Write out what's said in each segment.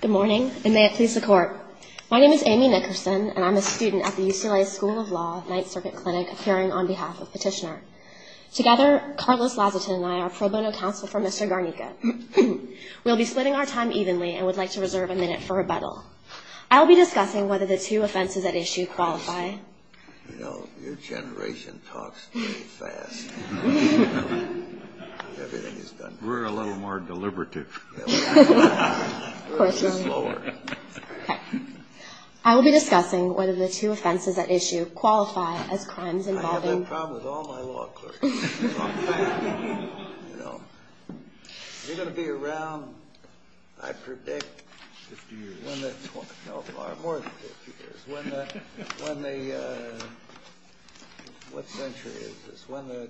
Good morning, and may it please the Court. My name is Amy Nickerson, and I'm a student at the UCLA School of Law, Ninth Circuit Clinic, appearing on behalf of Petitioner. Together, Carlos Lazatin and I are pro bono counsel for Mr. Garnica. We'll be splitting our time evenly and would like to reserve a minute for rebuttal. I will be discussing whether the two offenses at issue qualify. You know, your generation talks too fast. We're a little more deliberative. I will be discussing whether the two offenses at issue qualify as crimes involving... I have that problem with all my law clerks. You're going to be around, I predict... Fifty years. No, far more than 50 years. When the... What century is this? When the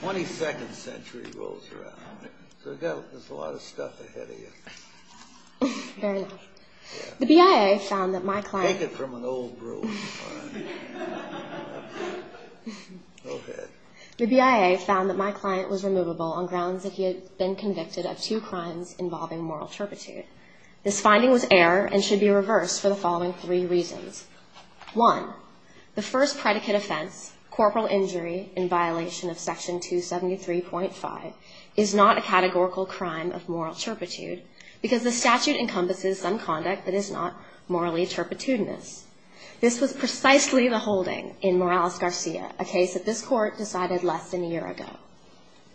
22nd century rolls around. So there's a lot of stuff ahead of you. Fair enough. The BIA found that my client... Take it from an old brook. Go ahead. The BIA found that my client was removable on grounds that he had been convicted of two crimes involving moral turpitude. This finding was error and should be reversed for the following three reasons. One, the first predicate offense, corporal injury in violation of section 273.5, is not a categorical crime of moral turpitude because the statute encompasses some conduct that is not morally turpitudinous. This was precisely the holding in Morales-Garcia, a case that this court decided less than a year ago.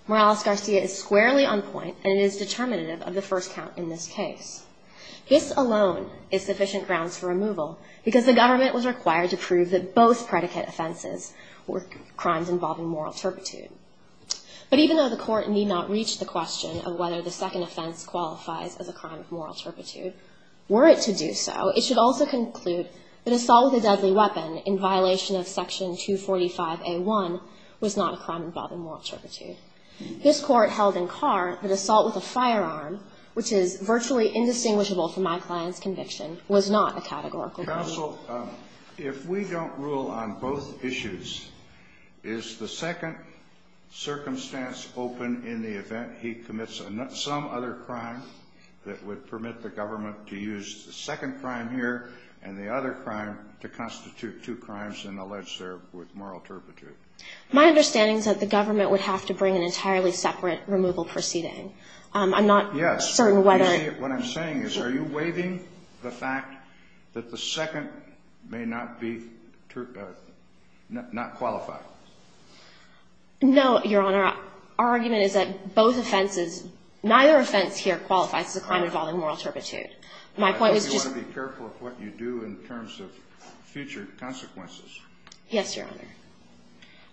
Morales-Garcia is squarely on point and it is determinative of the first count in this case. This alone is sufficient grounds for removal because the government was required to prove that both predicate offenses were crimes involving moral turpitude. But even though the court need not reach the question of whether the second offense qualifies as a crime of moral turpitude, were it to do so, it should also conclude that assault with a deadly weapon in violation of section 245A1 was not a crime involving moral turpitude. This court held in Carr that assault with a firearm, which is virtually indistinguishable from my client's conviction, was not a categorical crime. Counsel, if we don't rule on both issues, is the second circumstance open in the event he commits some other crime that would permit the government to use the second crime here and the other crime to constitute two crimes and allege they're with moral turpitude? My understanding is that the government would have to bring an entirely separate removal proceeding. I'm not certain whether – Yes. What I'm saying is, are you waiving the fact that the second may not be – not qualify? No, Your Honor. Our argument is that both offenses – neither offense here qualifies as a crime involving moral turpitude. My point was just – I hope you want to be careful of what you do in terms of future consequences. Yes, Your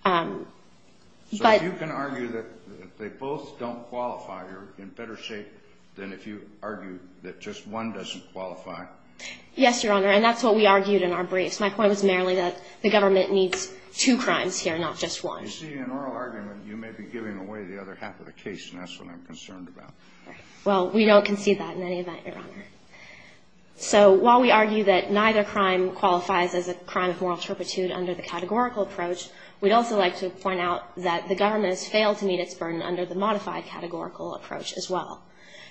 Honor. But – So if you can argue that they both don't qualify, you're in better shape than if you argue that just one doesn't qualify? Yes, Your Honor, and that's what we argued in our briefs. My point was merely that the government needs two crimes here, not just one. You see, in oral argument, you may be giving away the other half of the case, and that's what I'm concerned about. Well, we don't concede that in any event, Your Honor. So while we argue that neither crime qualifies as a crime of moral turpitude under the categorical approach, we'd also like to point out that the government has failed to meet its burden under the modified categorical approach as well.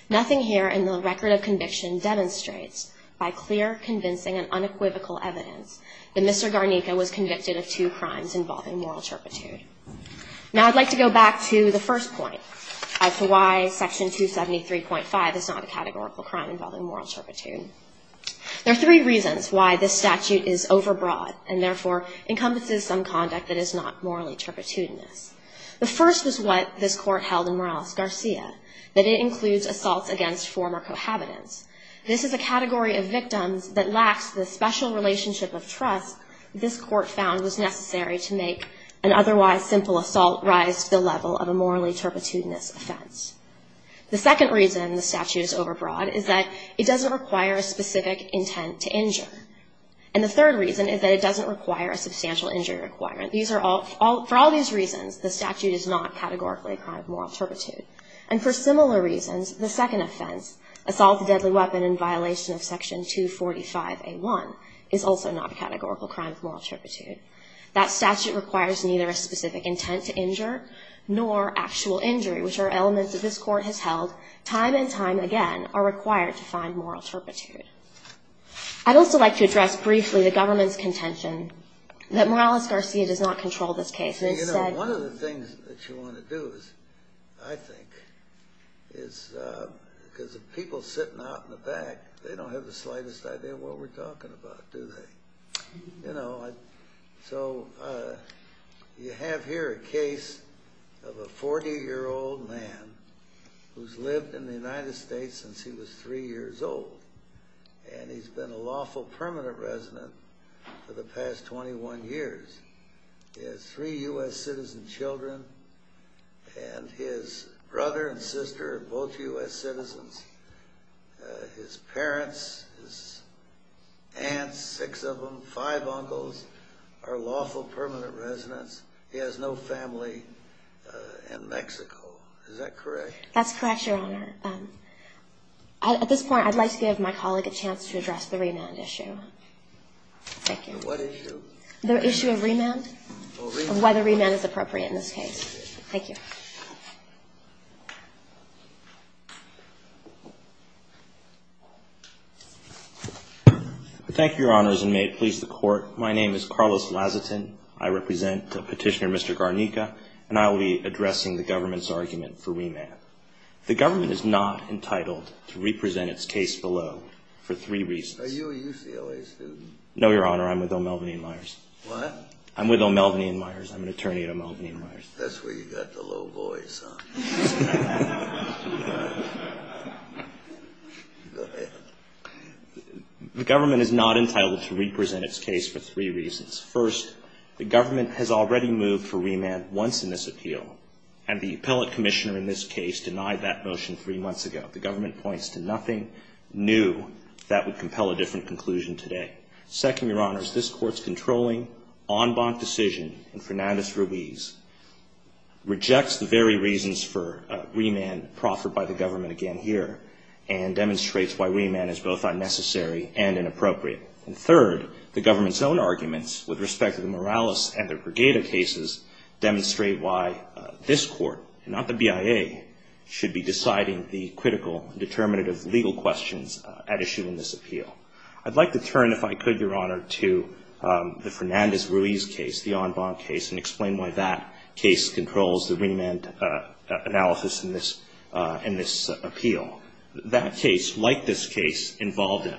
Nothing here in the record of conviction demonstrates, by clear, convincing, and unequivocal evidence, that Mr. Garnica was convicted of two crimes involving moral turpitude. Now, I'd like to go back to the first point as to why Section 273.5 is not a categorical crime involving moral turpitude. There are three reasons why this statute is overbroad and, therefore, encompasses some conduct that is not morally turpitudinous. The first was what this Court held in Morales-Garcia, that it includes assaults against former cohabitants. This is a category of victims that lacks the special relationship of trust this Court found was necessary to make an otherwise simple assault rise to the level of a morally turpitudinous offense. The second reason the statute is overbroad is that it doesn't require a specific intent to injure. And the third reason is that it doesn't require a substantial injury requirement. For all these reasons, the statute is not categorically a crime of moral turpitude. And for similar reasons, the second offense, assault with a deadly weapon in violation of Section 245A1, is also not a categorical crime of moral turpitude. That statute requires neither a specific intent to injure nor actual injury, which are elements that this Court has held time and time again are required to find moral turpitude. I'd also like to address briefly the government's contention that Morales-Garcia does not control this case. And instead — You know, one of the things that you want to do is, I think, is because the people sitting out in the back, they don't have the slightest idea what we're talking about, do they? You know, so you have here a case of a 40-year-old man who's lived in the United States since he was three years old. And he's been a lawful permanent resident for the past 21 years. He has three U.S. citizen children, and his brother and sister are both U.S. citizens. His parents, his aunts, six of them, five uncles, are lawful permanent residents. He has no family in Mexico. Is that correct? That's correct, Your Honor. At this point, I'd like to give my colleague a chance to address the remand issue. Thank you. What issue? The issue of remand and why the remand is appropriate in this case. Thank you. Thank you, Your Honors, and may it please the Court. My name is Carlos Lazatin. I represent Petitioner Mr. Garnica, and I will be addressing the government's argument for remand. The government is not entitled to represent its case below for three reasons. Are you a UCLA student? No, Your Honor. I'm with O'Melveny & Myers. What? I'm with O'Melveny & Myers. I'm an attorney at O'Melveny & Myers. That's where you got the low voice, huh? The government is not entitled to represent its case for three reasons. First, the government has already moved for remand once in this appeal, and the appellate commissioner in this case denied that motion three months ago. The government points to nothing new that would compel a different conclusion today. Second, Your Honors, this Court's controlling, en banc decision in Fernandez-Ruiz rejects the very reasons for remand proffered by the government again here and demonstrates why remand is both unnecessary and inappropriate. And third, the government's own arguments with respect to the Morales and the Brigada cases demonstrate why this Court, not the BIA, should be deciding the critical determinative legal questions at issue in this appeal. I'd like to turn, if I could, Your Honor, to the Fernandez-Ruiz case, the en banc case, and explain why that case controls the remand analysis in this appeal. That case, like this case, involved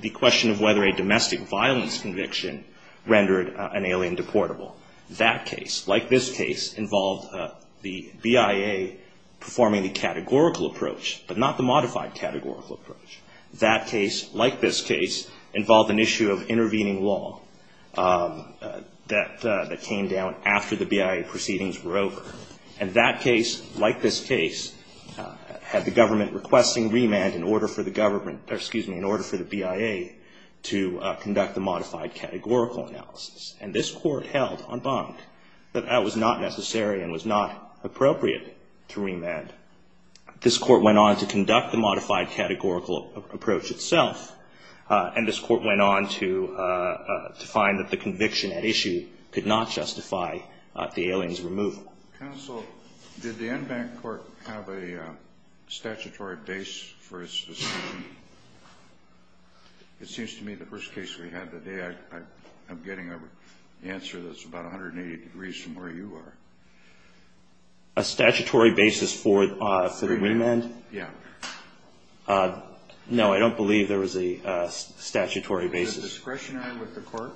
the question of whether a domestic violence conviction rendered an alien deportable. That case, like this case, involved the BIA performing the categorical approach, but not the modified categorical approach. That case, like this case, involved an issue of intervening law that came down after the BIA proceedings were over. And that case, like this case, had the government requesting remand in order for the government, or excuse me, in order for the BIA to conduct the modified categorical analysis. And this Court held, en banc, that that was not necessary and was not appropriate to remand. This Court went on to conduct the modified categorical approach itself, and this Court went on to find that the conviction at issue could not justify the alien's removal. Counsel, did the en banc Court have a statutory base for its decision? It seems to me the first case we had today, I'm getting an answer that's about 180 degrees from where you are. A statutory basis for the remand? Yeah. No, I don't believe there was a statutory basis. Was it discretionary with the Court?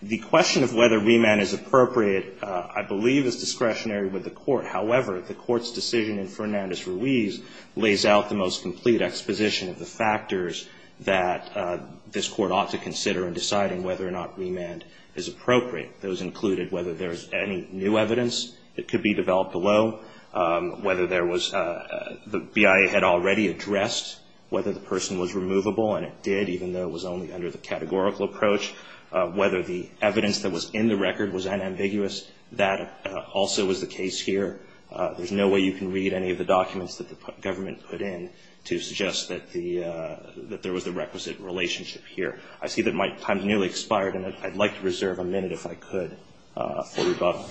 The question of whether remand is appropriate, I believe, is discretionary with the Court. However, the Court's decision in Fernandez-Ruiz lays out the most complete exposition of the factors that this Court ought to consider in deciding whether or not remand is appropriate. Those included whether there's any new evidence that could be developed below, whether there was the BIA had already addressed whether the person was removable, and it did, even though it was only under the categorical approach, whether the evidence that was in the record was unambiguous, that also was the case here. There's no way you can read any of the documents that the government put in to suggest that the that there was the requisite relationship here. I see that my time has nearly expired, and I'd like to reserve a minute, if I could, for rebuttal.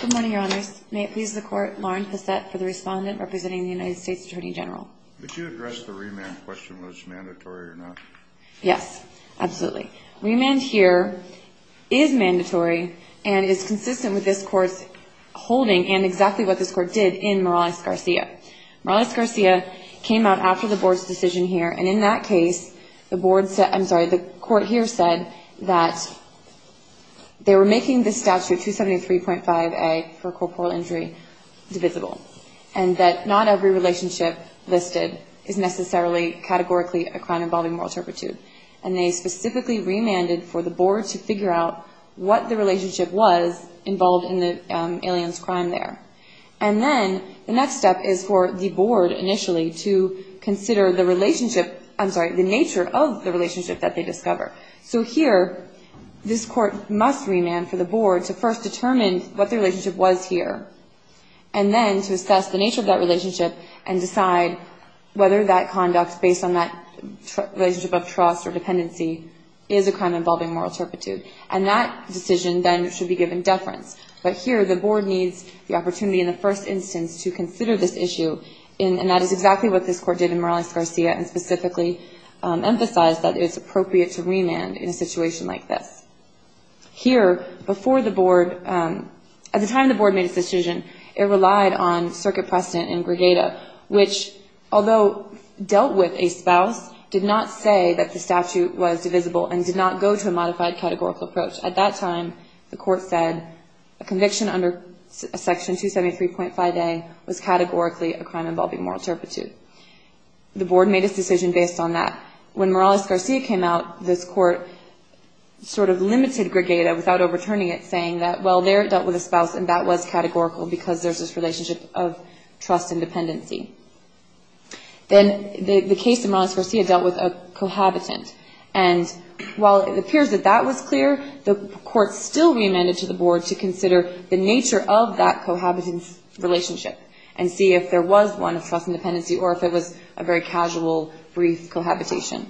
Good morning, Your Honors. May it please the Court, Lauren Passett for the Respondent representing the United States Attorney General. Could you address the remand question whether it's mandatory or not? Yes, absolutely. Remand here is mandatory and is consistent with this Court's holding and exactly what this Court did in Morales-Garcia. Morales-Garcia came out after the Board's decision here, and in that case, the Court here said that they were making the statute 273.5A for corporal injury divisible, and that not every relationship listed is necessarily categorically a crime involving moral turpitude. And they specifically remanded for the Board to figure out what the relationship was involved in the alien's crime there. And then the next step is for the Board initially to consider the relationship, I'm sorry, the nature of the relationship that they discover. So here, this Court must remand for the Board to first determine what the relationship was here, and then to assess the nature of that relationship and decide whether that conduct, based on that relationship of trust or dependency, is a crime involving moral turpitude. And that decision then should be given deference. But here, the Board needs the opportunity in the first instance to consider this issue, and that is exactly what this Court did in Morales-Garcia and specifically emphasized that it's appropriate to remand in a situation like this. Here, before the Board, at the time the Board made its decision, it relied on circuit precedent in Gregata, which, although dealt with a spouse, did not say that the statute was divisible and did not go to a modified categorical approach. At that time, the Court said a conviction under Section 273.5a was categorically a crime involving moral turpitude. The Board made its decision based on that. When Morales-Garcia came out, this Court sort of limited Gregata without overturning it, saying that, well, there it dealt with a spouse, and that was categorical because there's this relationship of trust and dependency. Then the case in Morales-Garcia dealt with a cohabitant, and while it appears that that was clear, the Court still reamended to the Board to consider the nature of that cohabitant's relationship and see if there was one of trust and dependency or if it was a very casual, brief cohabitation.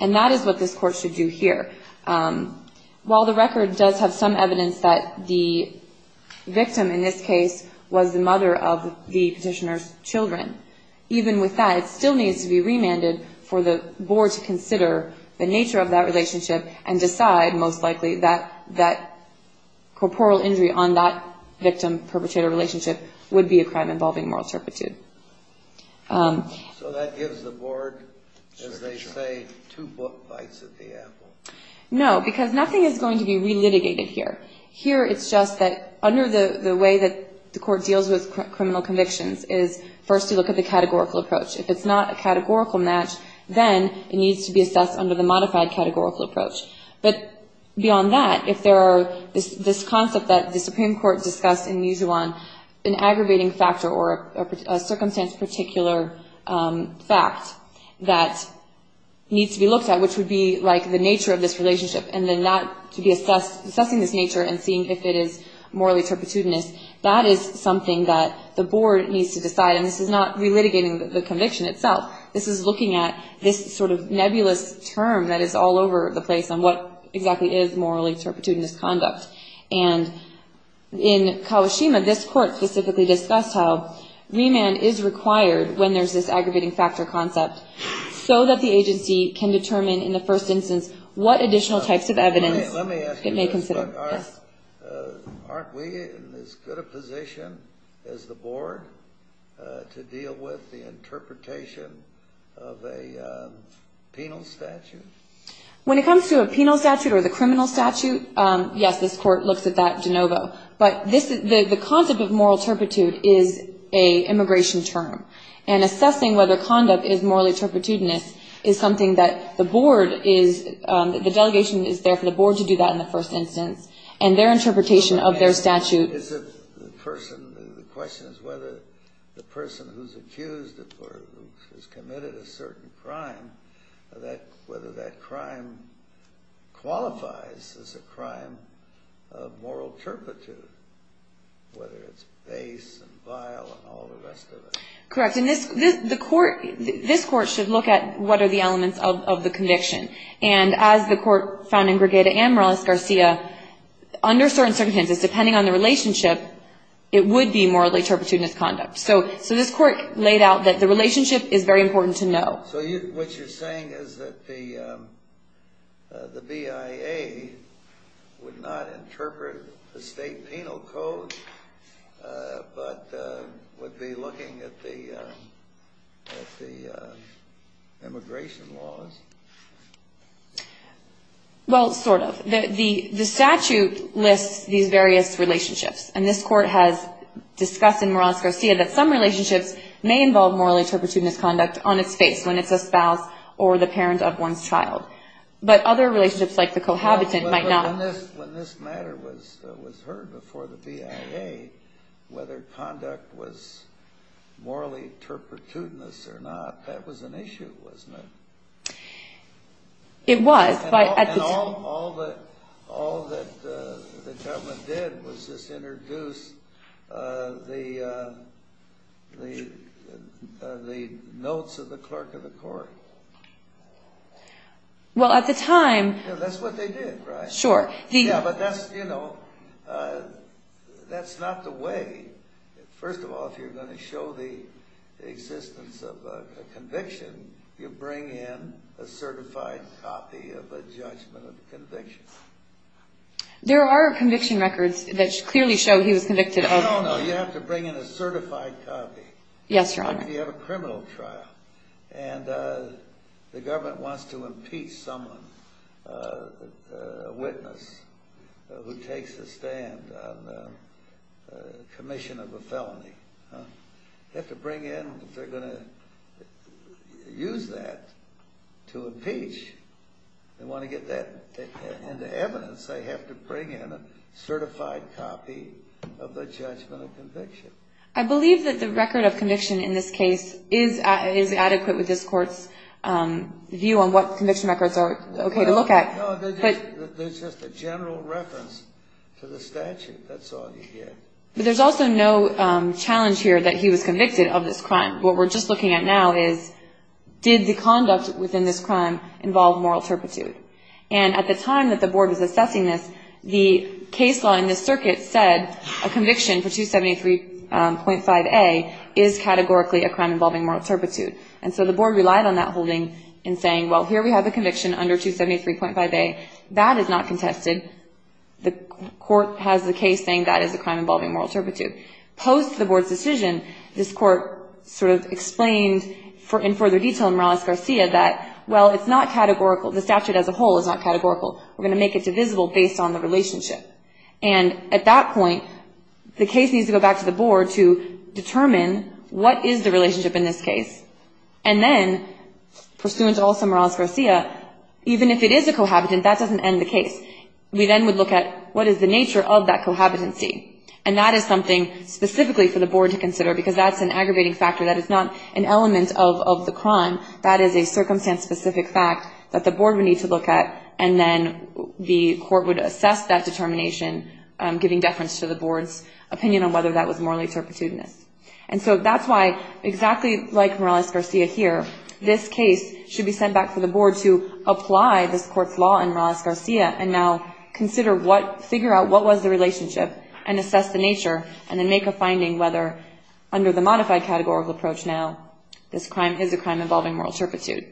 And that is what this Court should do here. While the record does have some evidence that the victim in this case was the mother of the petitioner's children, even with that, it still needs to be remanded for the Board to consider the nature of that relationship and decide, most likely, that that corporeal injury on that victim-perpetrator relationship would be a crime involving moral turpitude. So that gives the Board, as they say, two book bites at the apple. No, because nothing is going to be relitigated here. Here it's just that under the way that the Court deals with criminal convictions is first to look at the categorical approach. If it's not a categorical match, then it needs to be assessed under the modified categorical approach. But beyond that, if there are this concept that the Supreme Court discussed in Mijuan, an aggravating factor or a circumstance-particular fact that needs to be looked at, which would be like the nature of this relationship, and then to be assessing this nature and seeing if it is morally turpitudinous, that is something that the Board needs to decide. And this is not relitigating the conviction itself. This is looking at this sort of nebulous term that is all over the place on what exactly is morally turpitudinous conduct. And in Kawashima, this Court specifically discussed how remand is required when there's this aggravating factor concept, so that the agency can determine in the first instance what additional types of evidence it may consider. Let me ask you this. Aren't we in as good a position as the Board to deal with the interpretation of a penal statute? When it comes to a penal statute or the criminal statute, yes, this Court looks at that de novo. But the concept of moral turpitude is an immigration term. And assessing whether conduct is morally turpitudinous is something that the Board is – the delegation is there for the Board to do that in the first instance. And their interpretation of their statute – The question is whether the person who's accused or who's committed a certain crime, whether that crime qualifies as a crime of moral turpitude, whether it's base and vile and all the rest of it. Correct. And this Court should look at what are the elements of the conviction. And as the Court found in Gregada and Morales-Garcia, under certain circumstances, depending on the relationship, it would be morally turpitudinous conduct. So this Court laid out that the relationship is very important to know. So what you're saying is that the BIA would not interpret the state penal code but would be looking at the immigration laws? Well, sort of. The statute lists these various relationships. And this Court has discussed in Morales-Garcia that some relationships may involve morally turpitudinous conduct on its face when it's a spouse or the parent of one's child. But other relationships, like the cohabitant, might not. But when this matter was heard before the BIA, whether conduct was morally turpitudinous or not, that was an issue, wasn't it? It was. And all that the government did was just introduce the notes of the clerk of the court. Well, at the time... That's what they did, right? Sure. Yeah, but that's not the way. First of all, if you're going to show the existence of a conviction, you bring in a certified copy of a judgment of conviction. There are conviction records that clearly show he was convicted of... No, no, no. You have to bring in a certified copy. Yes, Your Honor. If you have a criminal trial. And the government wants to impeach someone, a witness, who takes a stand on the commission of a felony. You have to bring in... If they're going to use that to impeach and want to get that into evidence, they have to bring in a certified copy of the judgment of conviction. I believe that the record of conviction in this case is adequate with this court's view on what conviction records are okay to look at. No, there's just a general reference to the statute. That's all you get. But there's also no challenge here that he was convicted of this crime. What we're just looking at now is, did the conduct within this crime involve moral turpitude? And at the time that the board was assessing this, the case law in this circuit said a conviction for 273.5A is categorically a crime involving moral turpitude. And so the board relied on that holding in saying, well, here we have a conviction under 273.5A. That is not contested. The court has the case saying that is a crime involving moral turpitude. Post the board's decision, this court sort of explained in further detail in Morales-Garcia that, well, it's not categorical. The statute as a whole is not categorical. We're going to make it divisible based on the relationship. And at that point, the case needs to go back to the board to determine what is the relationship in this case. And then, pursuant to also Morales-Garcia, even if it is a cohabitant, that doesn't end the case. We then would look at what is the nature of that cohabitancy. And that is something specifically for the board to consider because that's an aggravating factor. That is not an element of the crime. That is a circumstance-specific fact that the board would need to look at, and then the court would assess that determination, giving deference to the board's opinion on whether that was morally turpitudinous. And so that's why, exactly like Morales-Garcia here, this case should be sent back to the board to apply this court's law in Morales-Garcia and now consider what, figure out what was the relationship and assess the nature and then make a finding whether, under the modified categorical approach now, this crime is a crime involving moral turpitude.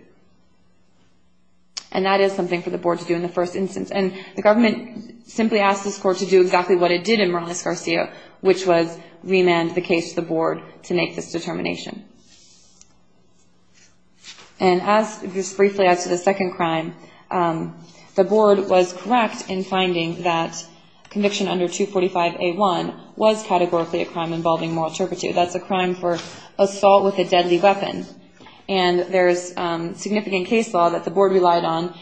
And that is something for the board to do in the first instance. And the government simply asked this court to do exactly what it did in Morales-Garcia, which was remand the case to the board to make this determination. And as, just briefly, as to the second crime, the board was correct in finding that conviction under 245A1 was categorically a crime involving moral turpitude. That's a crime for assault with a deadly weapon. And there's significant case law that the board relied on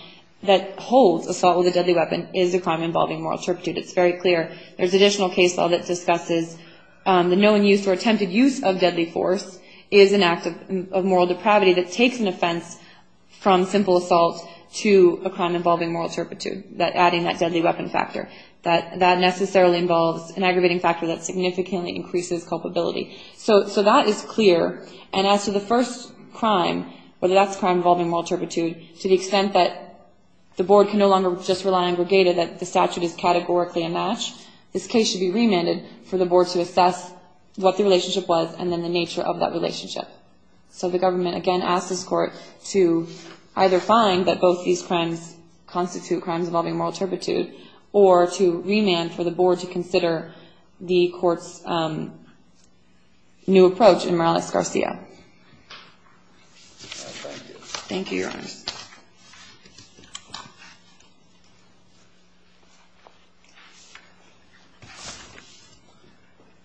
that holds assault with a deadly weapon is a crime involving moral turpitude. It's very clear. There's additional case law that discusses the known use or attempted use of deadly force is an act of moral depravity that takes an offense from simple assault to a crime involving moral turpitude, adding that deadly weapon factor. That necessarily involves an aggravating factor that significantly increases culpability. So that is clear. And as to the first crime, whether that's a crime involving moral turpitude, to the extent that the board can no longer just rely on Brigada, that the statute is categorically a match, this case should be remanded for the board to assess what the relationship was and then the nature of that relationship. So the government, again, asked this court to either find that both these crimes constitute crimes involving moral turpitude or to remand for the board to consider the court's new approach in Morales-Garcia. Thank you, Your Honors.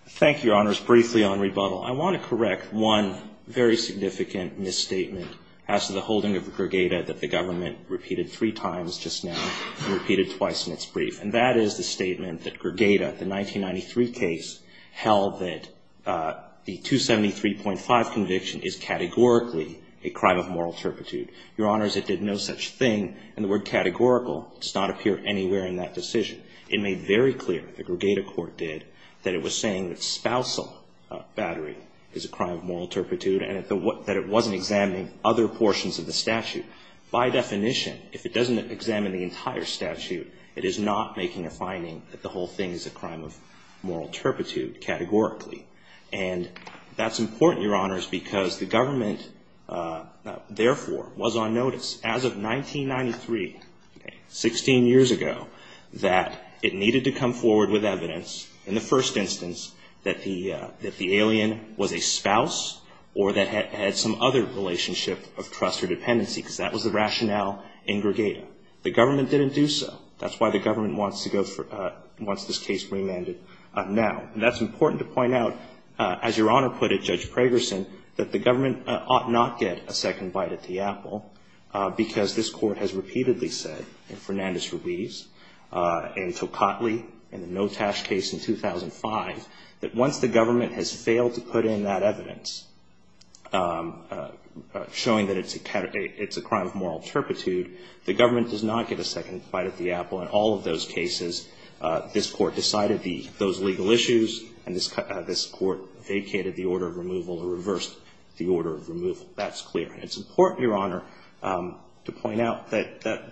Thank you, Your Honors. Briefly on rebuttal, I want to correct one very significant misstatement as to the holding of Brigada that the government repeated three times just now and repeated twice in its brief. And that is the statement that Brigada, the 1993 case, held that the 273.5 conviction is categorically a crime of moral turpitude. Your Honors, it did no such thing. And the word categorical does not appear anywhere in that decision. It made very clear, the Brigada court did, that it was saying that spousal battery is a crime of moral turpitude and that it wasn't examining other portions of the statute. By definition, if it doesn't examine the entire statute, it is not making a finding that the whole thing is a crime of moral turpitude categorically. And that's important, Your Honors, because the government, therefore, was on notice as of 1993, 16 years ago, that it needed to come forward with evidence in the first instance that the alien was a spouse or that it had some other relationship of trust or dependency, because that was the rationale in Brigada. The government didn't do so. That's why the government wants this case remanded now. And that's important to point out, as Your Honor put it, Judge Pragerson, that the government ought not get a second bite at the apple, because this court has repeatedly said, in Fernandez-Ruiz, in Tocatli, in the Notash case in 2005, that once the government has failed to put in that evidence showing that it's a crime of moral turpitude, the government does not get a second bite at the apple. In all of those cases, this court decided those legal issues and this court vacated the order of removal or reversed the order of removal. That's clear. And it's important, Your Honor, to point out that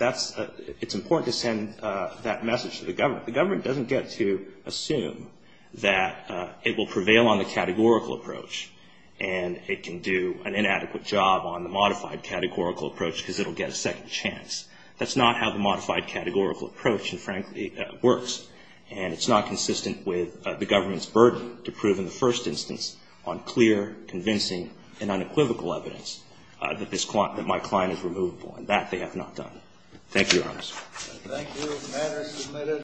it's important to send that message to the government. In fact, the government doesn't get to assume that it will prevail on the categorical approach and it can do an inadequate job on the modified categorical approach because it will get a second chance. That's not how the modified categorical approach, frankly, works. And it's not consistent with the government's burden to prove in the first instance on clear, convincing, and unequivocal evidence that my client is removable. And that they have not done. Thank you, Your Honors. Thank you. The matter is submitted.